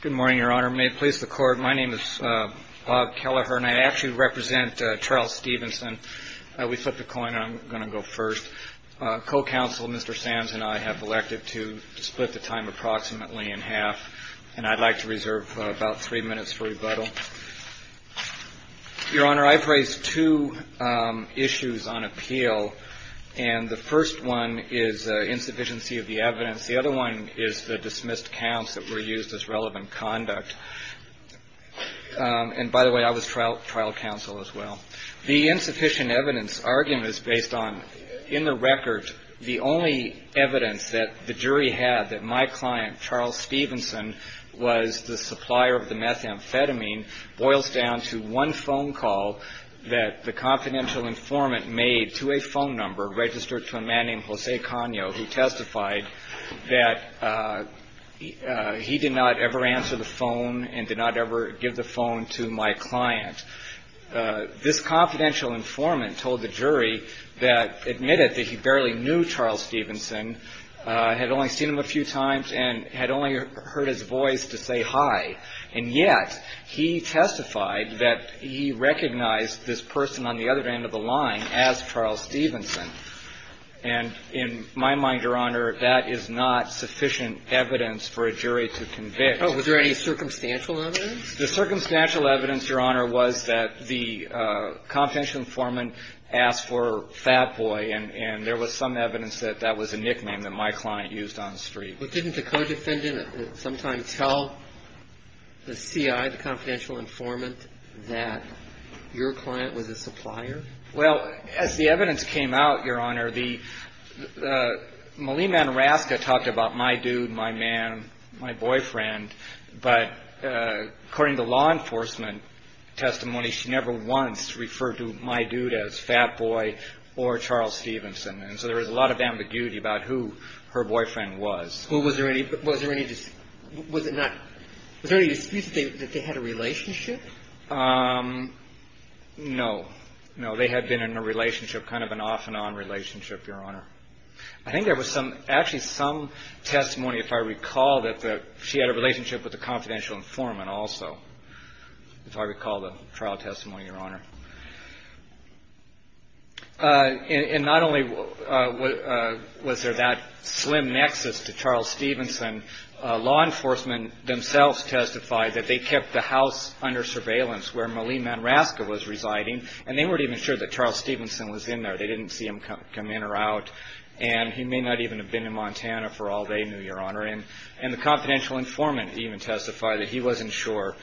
Good morning, Your Honor. May it please the Court, my name is Bob Kelleher, and I actually represent Charles Stevenson. We flipped a coin, and I'm going to go first. Co-counsel, Mr. Sams, and I have elected to split the time approximately in half, and I'd like to reserve about three minutes for rebuttal. Your Honor, I've raised two issues on appeal, and the first one is insufficiency of the evidence. The other one is the dismissed counts that were used as relevant conduct. And by the way, I was trial counsel as well. The insufficient evidence argument is based on, in the record, the only evidence that the jury had that my client, Charles Stevenson, was the supplier of the methamphetamine boils down to one phone call that the confidential informant made to a phone number registered to a man named Jose Cano, who testified that he did not ever answer the phone and did not ever give the phone to my client. This confidential informant told the jury that, admitted that he barely knew Charles Stevenson, had only seen him a few times, and had only heard his voice to say hi. And yet, he testified that he recognized this person on the other end of the line as Charles Stevenson. And in my mind, Your Honor, that is not sufficient evidence for a jury to convict. Oh, was there any circumstantial evidence? The circumstantial evidence, Your Honor, was that the confidential informant asked for Fat Boy, and there was some evidence that that was a nickname that my client used on the street. But didn't the co-defendant sometime tell the C.I., the confidential informant, that your client was a supplier? Well, as the evidence came out, Your Honor, Malia Manoraska talked about my dude, my man, my boyfriend. But according to law enforcement testimony, she never once referred to my dude as Fat Boy or Charles Stevenson. And so there was a lot of ambiguity about who her boyfriend was. Was there any excuse that they had a relationship? No. No, they had been in a relationship, kind of an off-and-on relationship, Your Honor. I think there was actually some testimony, if I recall, that she had a relationship with the confidential informant also, if I recall the trial testimony, Your Honor. And not only was there that slim nexus to Charles Stevenson, law enforcement themselves testified that they kept the house under surveillance where Malia Manoraska was residing, and they weren't even sure that Charles Stevenson was in there. They didn't see him come in or out. And he may not even have been in Montana for all they knew, Your Honor. And the confidential informant even testified that he wasn't sure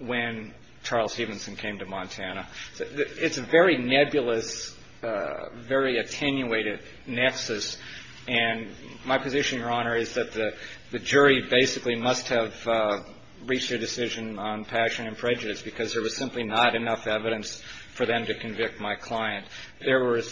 when Charles Stevenson came to Montana. It's a very nebulous, very attenuated nexus. And my position, Your Honor, is that the jury basically must have reached a decision on passion and prejudice because there was simply not enough evidence for them to convict my client. There were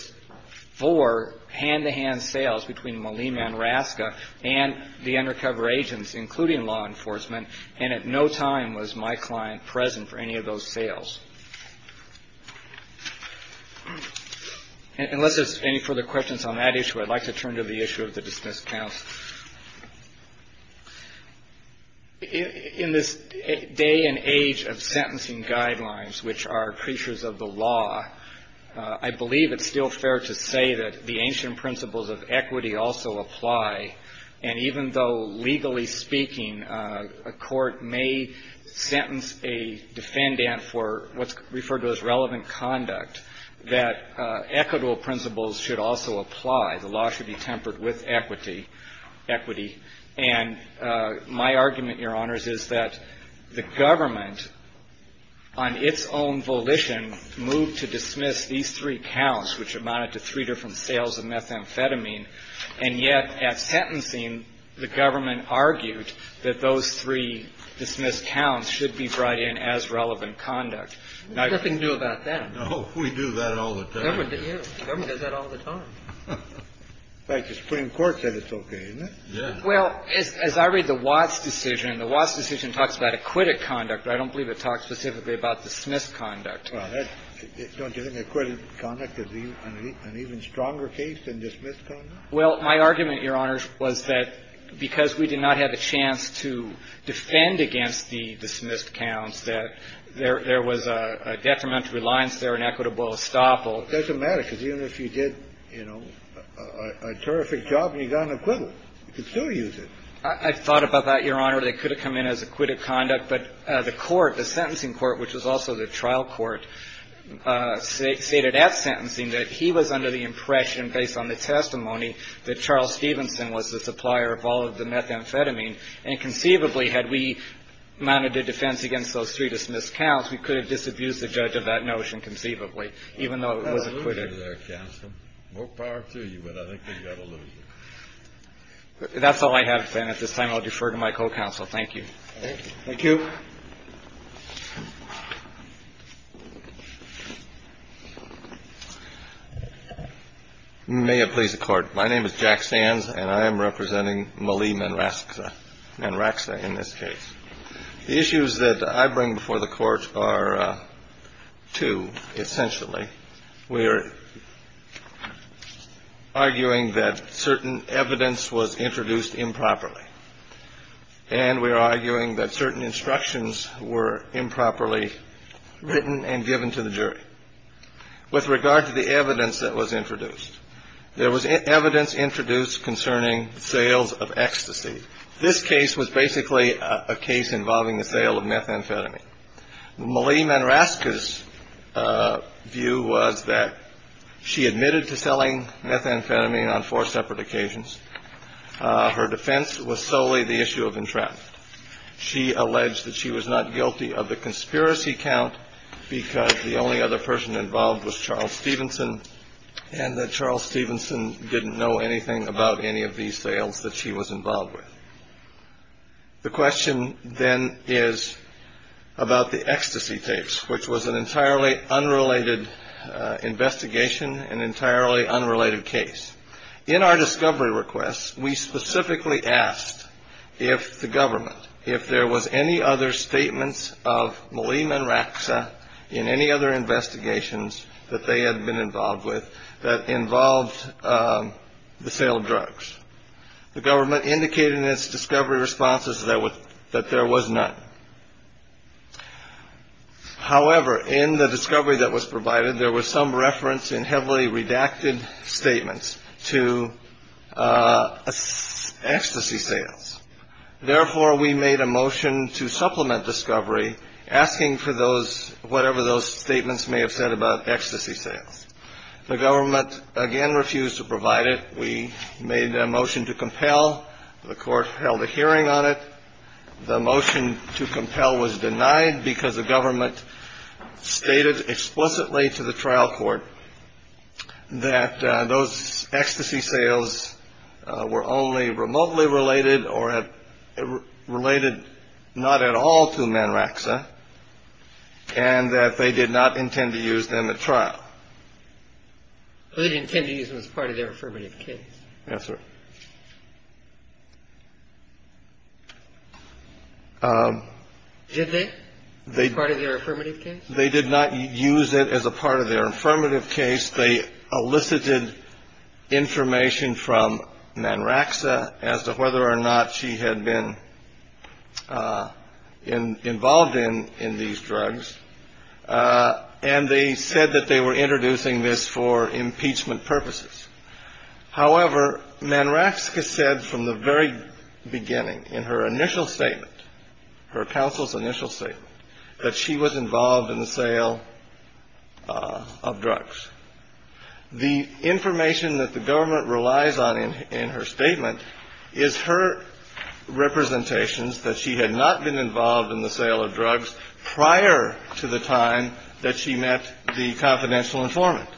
four hand-to-hand sales between Malia Manoraska and the undercover agents, including law enforcement, and at no time was my client present for any of those sales. Unless there's any further questions on that issue, I'd like to turn to the issue of the dismissed counts. In this day and age of sentencing guidelines, which are creatures of the law, I believe it's still fair to say that the ancient principles of equity also apply. And even though, legally speaking, a court may sentence a defendant for what's referred to as relevant conduct, that equitable principles should also apply. The law should be tempered with equity. And my argument, Your Honors, is that the government, on its own volition, moved to dismiss these three counts, which amounted to three different sales of methamphetamine. And yet, at sentencing, the government argued that those three dismissed counts should be brought in as relevant conduct. Nothing new about that. No. We do that all the time. The government does that all the time. In fact, the Supreme Court said it's okay, isn't it? Yeah. Well, as I read the Watts decision, the Watts decision talks about acquitted conduct, but I don't believe it talks specifically about dismissed conduct. Well, don't you think acquitted conduct is an even stronger case than dismissed conduct? Well, my argument, Your Honors, was that because we did not have a chance to defend against the dismissed counts, that there was a detrimental reliance there on equitable estoppel. It doesn't matter, because even if you did, you know, a terrific job and you got an acquittal, you could still use it. I thought about that, Your Honor. They could have come in as acquitted conduct, but the court, the sentencing court, which was also the trial court, stated at sentencing that he was under the impression, based on the testimony, that Charles Stevenson was the supplier of all of the methamphetamine. And conceivably, had we mounted a defense against those three dismissed counts, we could have disabused the judge of that notion conceivably, even though it was acquitted. That's all I have, then. At this time, I'll defer to my co-counsel. Thank you. Thank you. May it please the Court. My name is Jack Sands, and I am representing Malie Manraxa in this case. The issues that I bring before the Court are two, essentially. We are arguing that certain evidence was introduced improperly, and we are arguing that certain instructions were improperly written and given to the jury. With regard to the evidence that was introduced, there was evidence introduced concerning sales of ecstasy. This case was basically a case involving the sale of methamphetamine. Malie Manraxa's view was that she admitted to selling methamphetamine on four separate occasions. Her defense was solely the issue of entrapment. She alleged that she was not guilty of the conspiracy count because the only other person involved was Charles Stevenson and that Charles Stevenson didn't know anything about any of these sales that she was involved with. The question, then, is about the ecstasy tapes, which was an entirely unrelated investigation, an entirely unrelated case. In our discovery request, we specifically asked if the government, if there was any other statements of Malie Manraxa in any other investigations that they had been involved with that involved the sale of drugs. The government indicated in its discovery responses that there was none. However, in the discovery that was provided, there was some reference in heavily redacted statements to ecstasy sales. Therefore, we made a motion to supplement discovery, asking for whatever those statements may have said about ecstasy sales. The government, again, refused to provide it. We made a motion to compel. The court held a hearing on it. The motion to compel was denied because the government stated explicitly to the trial court that those ecstasy sales were only remotely related or related not at all to Manraxa and that they did not intend to use them at trial. They didn't intend to use them as part of their affirmative case. Yes, sir. Did they? As part of their affirmative case? They did not use it as a part of their affirmative case. They elicited information from Manraxa as to whether or not she had been involved in in these drugs. And they said that they were introducing this for impeachment purposes. However, Manraxa said from the very beginning in her initial statement, her counsel's initial statement, that she was involved in the sale of drugs. The information that the government relies on in her statement is her representations that she had not been involved in the sale of drugs prior to the time that she met the confidential informant.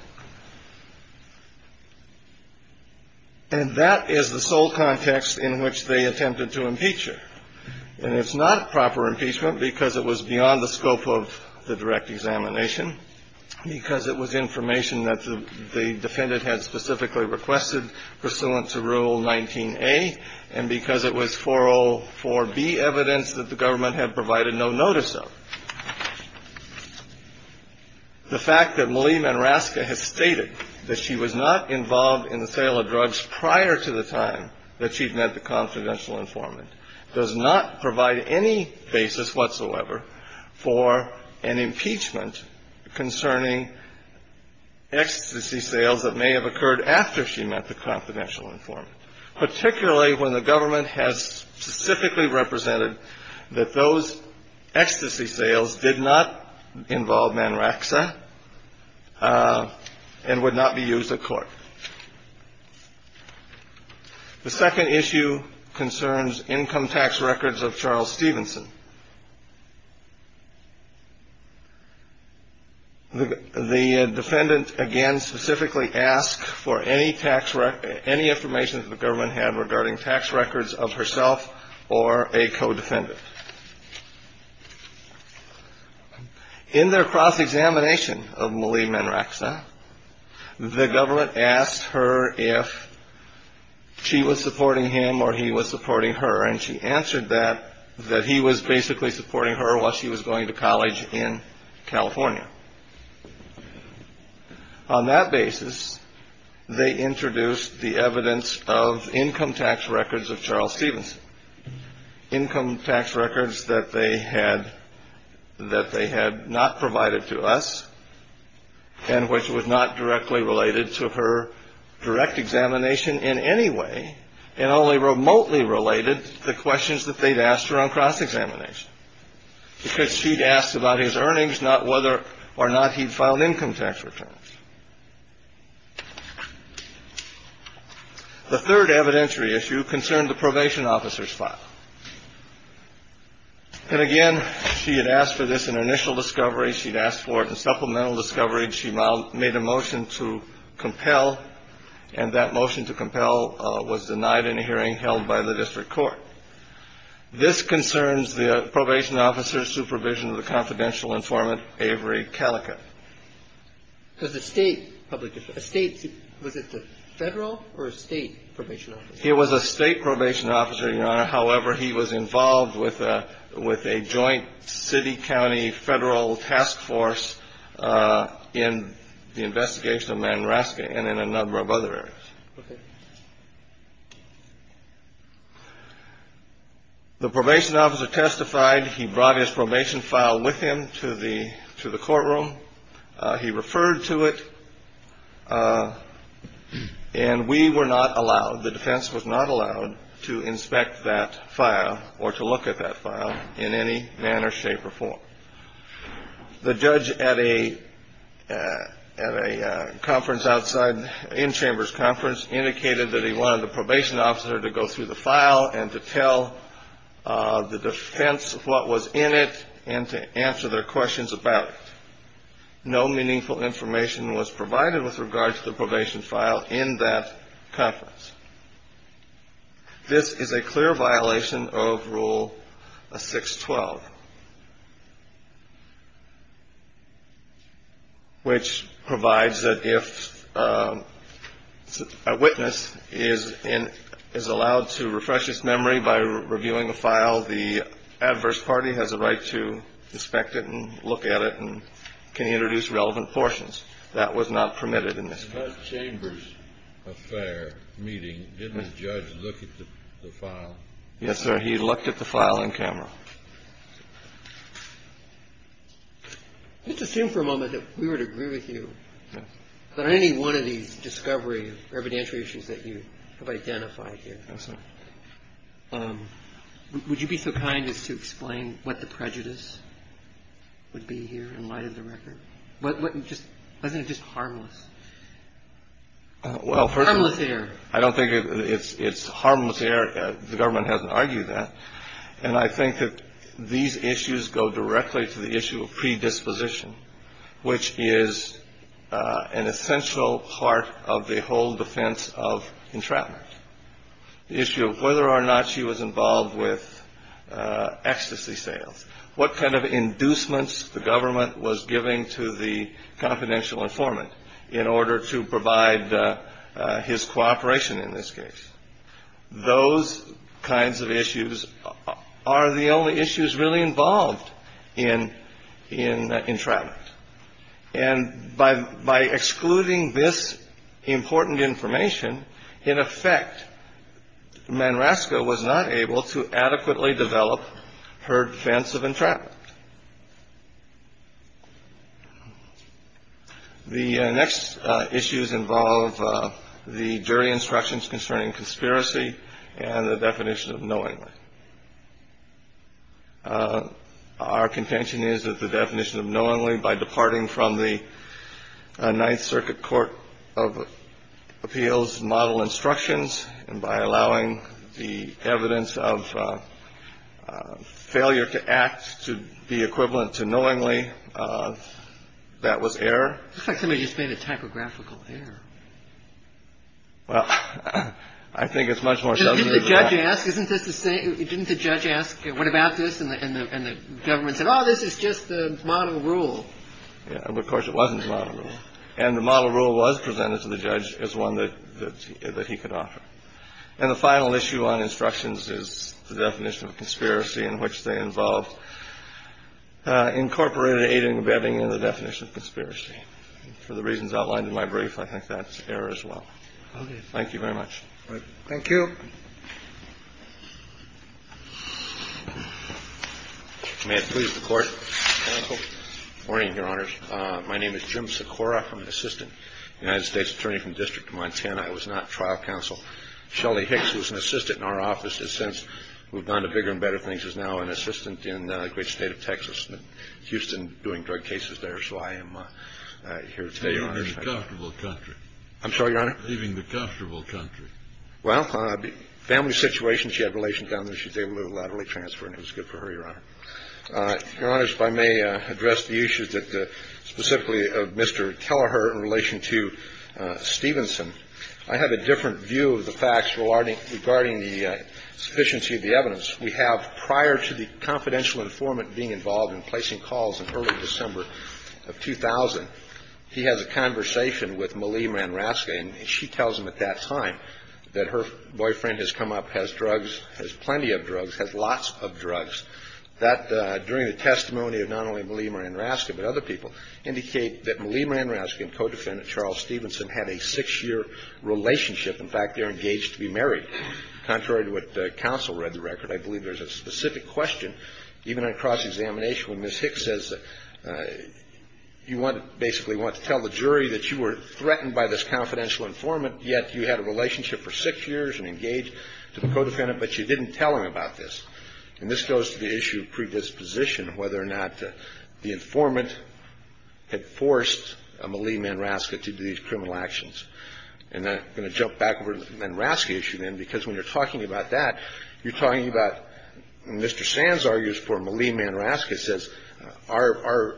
And that is the sole context in which they attempted to impeach her. And it's not proper impeachment because it was beyond the scope of the direct examination, because it was information that the defendant had specifically requested pursuant to Rule 19A, and because it was 404B evidence that the government had provided no notice of. The fact that Malia Manraxa has stated that she was not involved in the sale of drugs prior to the time that she'd met the confidential informant does not provide any basis whatsoever for an impeachment concerning ecstasy sales that may have occurred after she met the confidential informant, particularly when the government has specifically represented that those ecstasy sales did not involve Manraxa and would not be used at court. The second issue concerns income tax records of Charles Stevenson. The defendant, again, specifically asked for any information that the government had regarding tax records of herself or a co-defendant. In their cross-examination of Malia Manraxa, the government asked her if she was supporting him or he was supporting her, and she answered that, that he was basically supporting her while she was going to college in California. On that basis, they introduced the evidence of income tax records of Charles Stevenson, income tax records that they had not provided to us and which was not directly related to her direct examination in any way and only remotely related to questions that they'd asked her on cross-examination, because she'd asked about his earnings, not whether or not he'd filed income tax returns. The third evidentiary issue concerned the probation officer's file. And again, she had asked for this in initial discovery. She'd asked for it in supplemental discovery. She made a motion to compel, and that motion to compel was denied in a hearing held by the district court. This concerns the probation officer's supervision of the confidential informant, Avery Calica. Because the state public defense – a state – was it the Federal or a state probation officer? It was a state probation officer, Your Honor. However, he was involved with a joint city-county federal task force in the investigation of Manraska and in a number of other areas. Okay. The probation officer testified. He brought his probation file with him to the courtroom. He referred to it. And we were not allowed – the defense was not allowed to inspect that file or to look at that file in any manner, shape, or form. The judge at a conference outside – in chamber's conference indicated that he wanted the probation officer to go through the file and to tell the defense what was in it and to answer their questions about it. No meaningful information was provided with regard to the probation file in that conference. This is a clear violation of Rule 612, which provides that if a witness is allowed to refresh his memory by reviewing a file, the adverse party has a right to inspect it and look at it and can introduce relevant portions. That was not permitted in this case. In that chamber's affair meeting, didn't the judge look at the file? Yes, sir. He looked at the file on camera. Let's assume for a moment that we would agree with you that any one of these discovery or evidentiary issues that you have identified here. Yes, sir. Would you be so kind as to explain what the prejudice would be here in light of the record? Wasn't it just harmless? Well, first of all – Harmless error. I don't think it's harmless error. The government hasn't argued that. And I think that these issues go directly to the issue of predisposition, which is an essential part of the whole defense of entrapment. The issue of whether or not she was involved with ecstasy sales. What kind of inducements the government was giving to the confidential informant in order to provide his cooperation in this case. Those kinds of issues are the only issues really involved in entrapment. And by excluding this important information, in effect, Manrasco was not able to adequately develop her defense of entrapment. The next issues involve the jury instructions concerning conspiracy and the definition of knowingly. Our contention is that the definition of knowingly by departing from the Ninth Circuit Court of Appeals model instructions and by allowing the evidence of failure to act to be equivalent to knowingly, that was error. It looks like somebody just made a typographical error. Well, I think it's much more subtle than that. Didn't the judge ask? Isn't this the same? Didn't the judge ask? What about this? And the government said, oh, this is just the model rule. Of course, it wasn't. And the model rule was presented to the judge as one that he could offer. And the final issue on instructions is the definition of conspiracy in which they involved incorporated aiding and abetting in the definition of conspiracy. For the reasons outlined in my brief, I think that's error as well. Thank you very much. Thank you. May it please the Court. Good morning, Your Honors. My name is Jim Sikora. I'm an assistant United States attorney from the District of Montana. I was not trial counsel. Shelly Hicks was an assistant in our office. And since we've gone to bigger and better things, is now an assistant in the great state of Texas, Houston, doing drug cases there. So I am here today, Your Honors. You're in a very comfortable country. I'm sorry, Your Honor? Leaving the comfortable country. Well, family situation, she had relations down there. She was able to laterally transfer, and it was good for her, Your Honor. Your Honors, if I may address the issues that specifically of Mr. Kelleher in relation to Stevenson. I have a different view of the facts regarding the sufficiency of the evidence. We have prior to the confidential informant being involved in placing calls in early December of 2000, he has a conversation with Malia Ranrasca, and she tells him at that time that her boyfriend has come up, has drugs, has plenty of drugs, has lots of drugs. That, during the testimony of not only Malia Ranrasca but other people, indicate that Malia Ranrasca and co-defendant Charles Stevenson had a six-year relationship. In fact, they're engaged to be married. Contrary to what counsel read in the record, I believe there's a specific question, even on cross-examination when Ms. Hicks says that you want to basically want to tell the jury that you were threatened by this confidential informant, yet you had a relationship for six years and engaged to the co-defendant, but you didn't tell him about this. And this goes to the issue of predisposition, whether or not the informant had forced Malia Ranrasca to do these criminal actions. And I'm going to jump back over to the Ranrasca issue then, because when you're talking about that, you're talking about Mr. Sands argues for Malia Ranrasca says our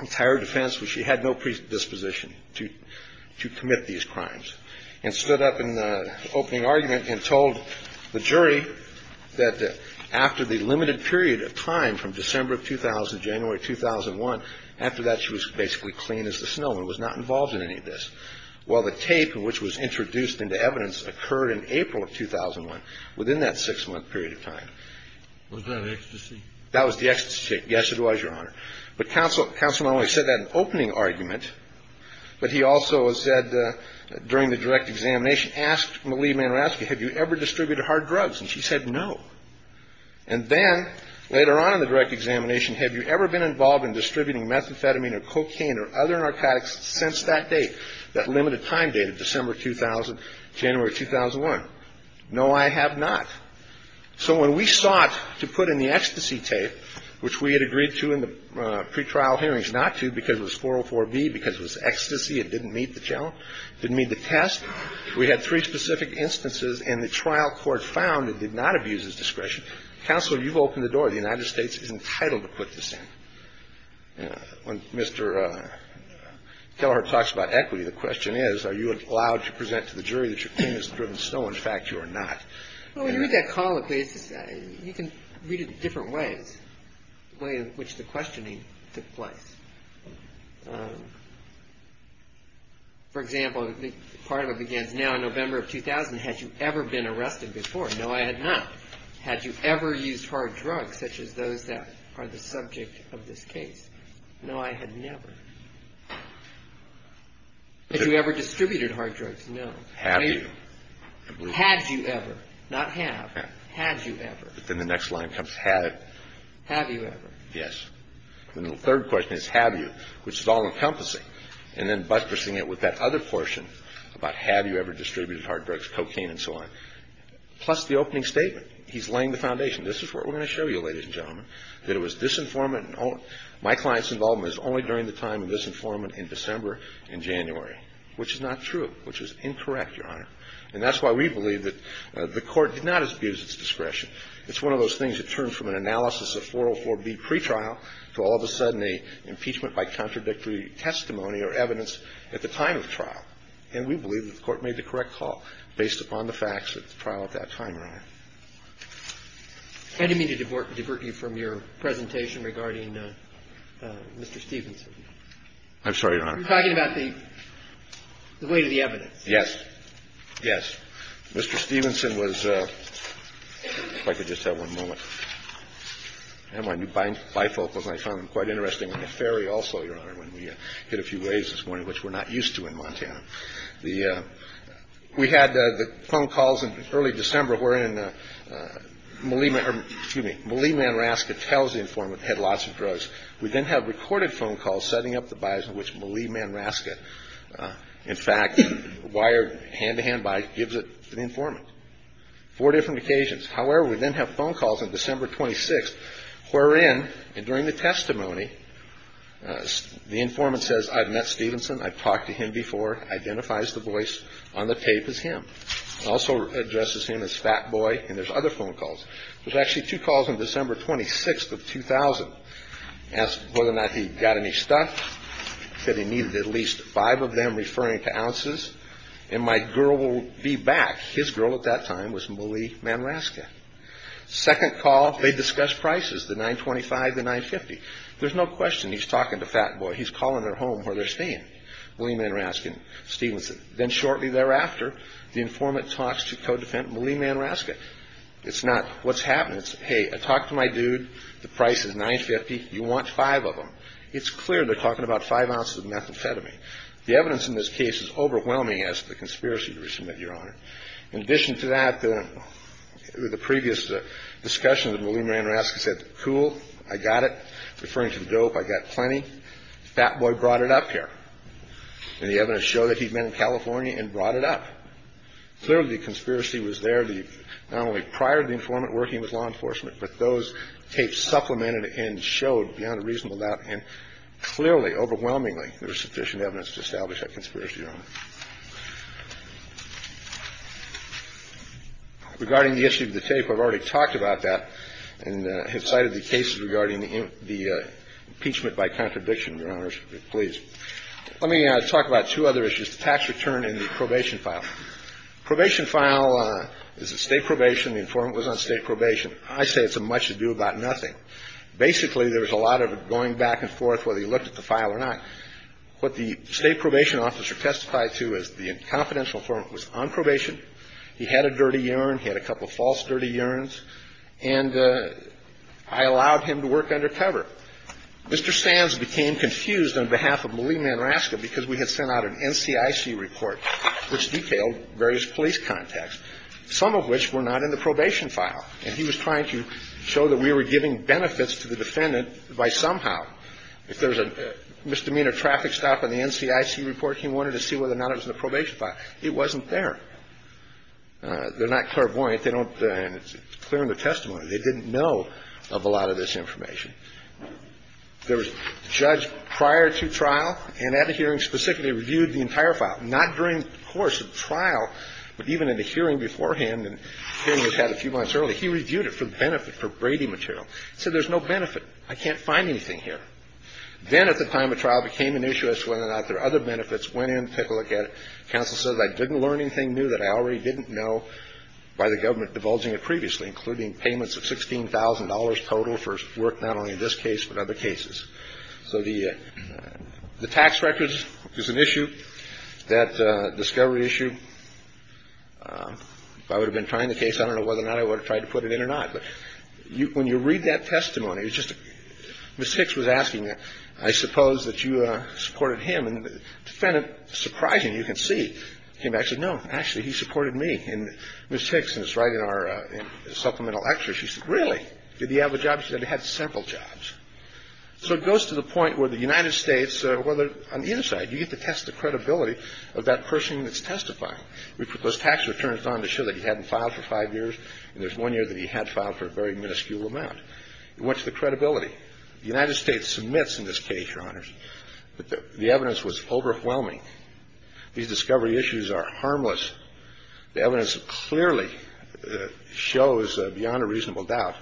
entire defense was she had no predisposition to commit these crimes and stood up in the opening argument and told the jury that after the limited period of time from December of 2000, January of 2001, after that she was basically clean as the snow and was not involved in any of this. While the tape, which was introduced into evidence, occurred in April of 2001, within that six-month period of time. Was that ecstasy? That was the ecstasy tape. Yes, it was, Your Honor. But counsel not only said that in the opening argument, but he also said during the direct examination, asked Malia Ranrasca, have you ever distributed hard drugs? And she said no. And then later on in the direct examination, have you ever been involved in distributing methamphetamine or cocaine or other narcotics since that date? That limited time date of December 2000, January 2001. No, I have not. So when we sought to put in the ecstasy tape, which we had agreed to in the pretrial hearings not to because it was 404B, because it was ecstasy, it didn't meet the challenge, didn't meet the test, we had three specific instances, and the trial court found it did not abuse its discretion. Counsel, you've opened the door. The United States is entitled to put this in. When Mr. Kelleher talks about equity, the question is, are you allowed to present to the jury that your claim is driven so, in fact, you are not? Well, when you read that call, you can read it in different ways, the way in which the questioning took place. For example, part of it begins, now in November of 2000, had you ever been arrested before? No, I had not. Had you ever used hard drugs, such as those that are the subject of this case? No, I had never. Had you ever distributed hard drugs? No. Have you? Had you ever? Not have. Had you ever? But then the next line comes, had. Have you ever? Yes. And the third question is, have you, which is all-encompassing. And then buttressing it with that other portion about have you ever distributed hard drugs, cocaine and so on. Plus the opening statement. He's laying the foundation. This is what we're going to show you, ladies and gentlemen, that it was disinformant and my client's involvement is only during the time of disinformant in December and January, which is not true, which is incorrect, Your Honor. And that's why we believe that the Court did not abuse its discretion. It's one of those things that turned from an analysis of 404B pretrial to all of a sudden a impeachment by contradictory testimony or evidence at the time of trial. And we believe that the Court made the correct call based upon the facts of the trial at that time, Your Honor. I didn't mean to divert you from your presentation regarding Mr. Stevenson. I'm sorry, Your Honor. You're talking about the weight of the evidence. Yes. Yes. Mr. Stevenson was – if I could just have one moment. I have my new bifocals, and I found them quite interesting. And the ferry also, Your Honor, when we hit a few waves this morning, which we're not used to in Montana. We had the phone calls in early December wherein Malie Manraska tells the informant he had lots of drugs. We then have recorded phone calls setting up the bias in which Malie Manraska, in fact, wired hand-to-hand by – gives it to the informant. Four different occasions. However, we then have phone calls on December 26th wherein, and during the testimony, the informant says, I've met Stevenson, I've talked to him before, identifies the voice on the tape as him, also addresses him as Fat Boy, and there's other phone calls. There's actually two calls on December 26th of 2000. Asked whether or not he got any stuff. Said he needed at least five of them referring to ounces, and my girl will be back. His girl at that time was Malie Manraska. Second call, they discuss prices, the 925, the 950. There's no question he's talking to Fat Boy. He's calling their home where they're staying. Malie Manraska and Stevenson. Then shortly thereafter, the informant talks to co-defendant Malie Manraska. It's not what's happening. It's, hey, I talked to my dude. The price is 950. You want five of them. It's clear they're talking about five ounces of methamphetamine. The evidence in this case is overwhelming as to the conspiracy to resubmit, Your Honor. In addition to that, the previous discussion with Malie Manraska said, cool, I got it. Referring to the dope, I got plenty. Fat Boy brought it up here. And the evidence showed that he'd been in California and brought it up. Clearly, the conspiracy was there not only prior to the informant working with law enforcement, but those tapes supplemented and showed beyond a reasonable doubt and clearly, overwhelmingly, there was sufficient evidence to establish that conspiracy, Your Honor. Regarding the issue of the tape, I've already talked about that and have cited the cases regarding the impeachment by contradiction, Your Honors. Please. Let me talk about two other issues, the tax return and the probation file. Probation file is a state probation. The informant was on state probation. I say it's a much ado about nothing. Basically, there was a lot of going back and forth whether he looked at the file or not. What the state probation officer testified to is the confidential informant was on probation. He had a dirty urine. He had a couple of false dirty urines. And I allowed him to work undercover. Mr. Sands became confused on behalf of Malia Manrasca because we had sent out an NCIC report which detailed various police contacts, some of which were not in the probation file. And he was trying to show that we were giving benefits to the defendant by somehow. If there was a misdemeanor traffic stop in the NCIC report, he wanted to see whether or not it was in the probation file. It wasn't there. They're not clairvoyant. They don't – and it's clear in the testimony. They didn't know of a lot of this information. There was a judge prior to trial and at a hearing specifically reviewed the entire file. Not during the course of trial, but even in the hearing beforehand, and the hearing was had a few months earlier, he reviewed it for the benefit, for Brady material. He said there's no benefit. I can't find anything here. Then at the time of trial, it became an issue as to whether or not there are other benefits. Went in, took a look at it. Counsel said I didn't learn anything new that I already didn't know by the government divulging it previously, including payments of $16,000 total for work not only in this case, but other cases. So the tax records is an issue. That discovery issue, if I would have been trying the case, I don't know whether or not I would have tried to put it in or not. But when you read that testimony, it's just – Ms. Hicks was asking, I suppose that you supported him. And the defendant, surprising, you can see, came back and said, no, actually, he supported me. And Ms. Hicks is right in our supplemental exercise. She said, really? Did he have a job? She said he had several jobs. So it goes to the point where the United States, on the inside, you get to test the credibility of that person that's testifying. We put those tax returns on to show that he hadn't filed for five years, and there's one year that he had filed for a very minuscule amount. It went to the credibility. The United States submits in this case, Your Honors, that the evidence was overwhelming. These discovery issues are harmless. The evidence clearly shows, beyond a reasonable doubt,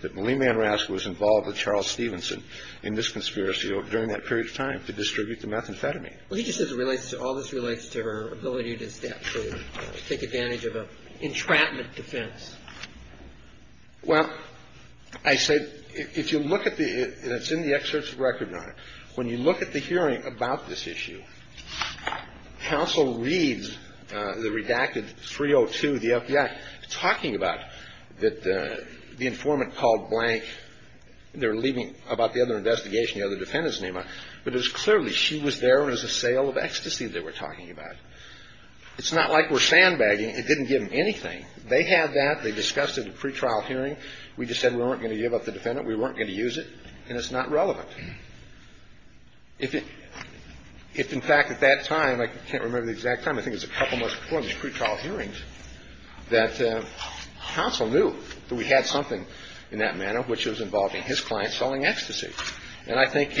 that Malina Rask was involved with Charles Stevenson in this conspiracy during that period of time to distribute the methamphetamine. Well, he just says it relates to – all this relates to her ability to step through, to take advantage of an entrapment defense. Well, I said, if you look at the – and it's in the excerpts of record, Your Honor. When you look at the hearing about this issue, counsel reads the redacted 302, the FBI, talking about that the informant called blank. They were leaving about the other investigation, the other defendant's name on it. But it was clearly she was there as a sale of ecstasy, they were talking about. It's not like we're sandbagging. It didn't give them anything. They had that. They discussed it in the pretrial hearing. We just said we weren't going to give up the defendant, we weren't going to use it, and it's not relevant. If in fact at that time, I can't remember the exact time, I think it was a couple months before the pretrial hearings, that counsel knew that we had something in that manner which was involving his client selling ecstasy. And I think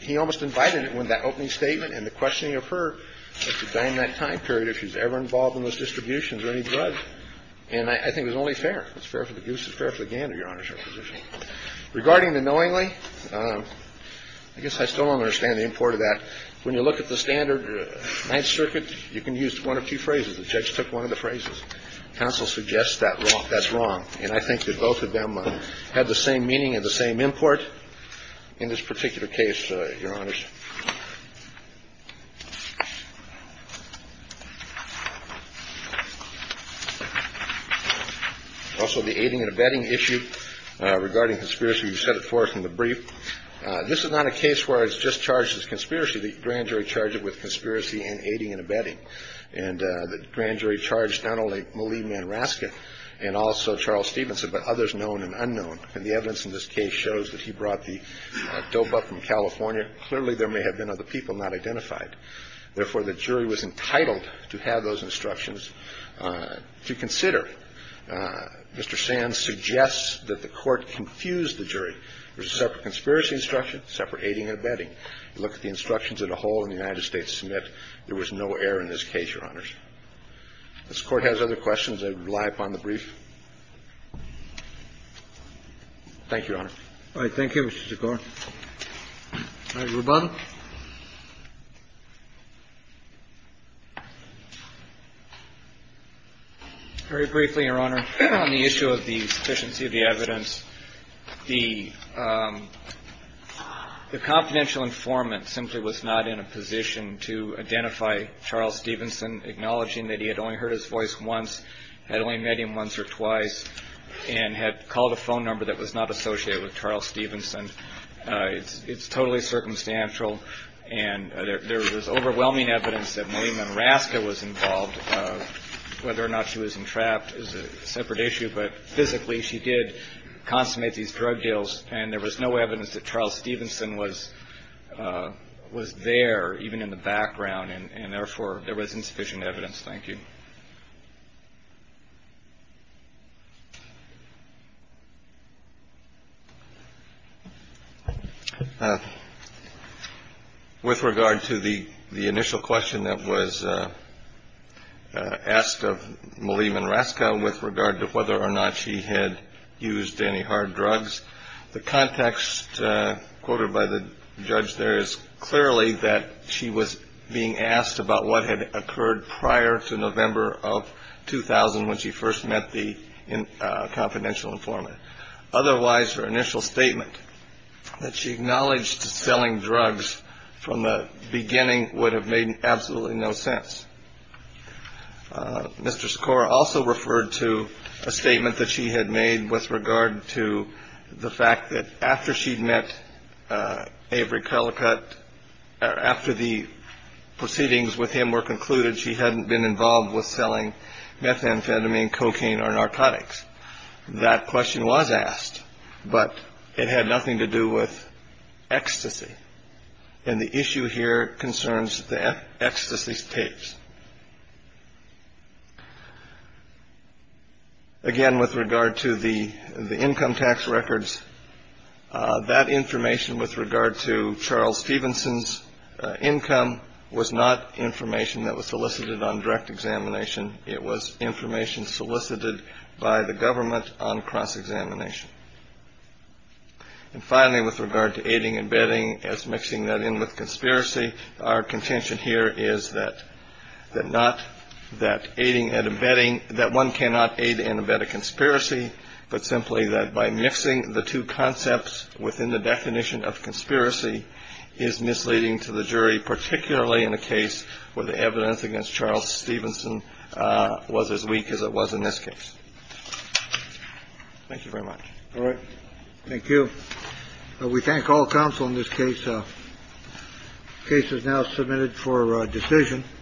he almost invited it when that opening statement and the questioning of her at the time, that time period, if she was ever involved in those distributions or any drugs. And I think it was only fair. It's fair for the goose. It's fair for the gander, Your Honor, is her position. Regarding the knowingly, I guess I still don't understand the import of that. When you look at the standard Ninth Circuit, you can use one of two phrases. The judge took one of the phrases. Counsel suggests that's wrong. And I think that both of them had the same meaning and the same import in this particular case, Your Honors. Also, the aiding and abetting issue regarding conspiracy. You set it forth in the brief. This is not a case where it's just charged as conspiracy. The grand jury charged it with conspiracy and aiding and abetting. And the grand jury charged not only Malia Manraska and also Charles Stevenson, but others known and unknown. And the evidence in this case shows that he brought the dope up from California. Clearly, there was a conspiracy. There may have been other people not identified. Therefore, the jury was entitled to have those instructions to consider. Mr. Sands suggests that the Court confused the jury. There was a separate conspiracy instruction, separate aiding and abetting. You look at the instructions as a whole in the United States Submit, there was no error in this case, Your Honors. If this Court has other questions, I would rely upon the brief. Thank you, Your Honor. All right. Thank you, Mr. Sikora. Mr. Ruben. Very briefly, Your Honor, on the issue of the sufficiency of the evidence, the confidential informant simply was not in a position to identify Charles Stevenson, acknowledging that he had only heard his voice once, had only met him once or twice, and had called a phone number that was not associated with Charles Stevenson. It's totally circumstantial. And there was overwhelming evidence that Malia Madraska was involved. Whether or not she was entrapped is a separate issue. But physically, she did consummate these drug deals. And there was no evidence that Charles Stevenson was there, even in the background. And therefore, there was insufficient evidence. Thank you. With regard to the initial question that was asked of Malia Madraska, with regard to whether or not she had used any hard drugs, the context quoted by the judge there is clearly that she was being asked about what had occurred prior to November of 2000 when she first met the confidential informant. Otherwise, her initial statement that she acknowledged selling drugs from the beginning would have made absolutely no sense. Mr. Skor also referred to a statement that she had made with regard to the fact that after she'd met Avery Colicutt, after the proceedings with him were concluded, she hadn't been involved with selling methamphetamine, cocaine, or narcotics. That question was asked, but it had nothing to do with ecstasy. And the issue here concerns the ecstasy tapes. Again, with regard to the income tax records, that information with regard to Charles Stevenson's income was not information that was solicited on direct examination. It was information solicited by the government on cross-examination. And finally, with regard to aiding and abetting as mixing that in with conspiracy, our contention here is that that not that aiding and abetting that one cannot aid and abet a conspiracy, but simply that by mixing the two concepts within the definition of conspiracy is misleading to the jury, particularly in a case where the evidence against Charles Stevenson was as weak as it was in this case. Thank you very much. All right. Thank you. We thank all counsel in this case. Case is now submitted for decision.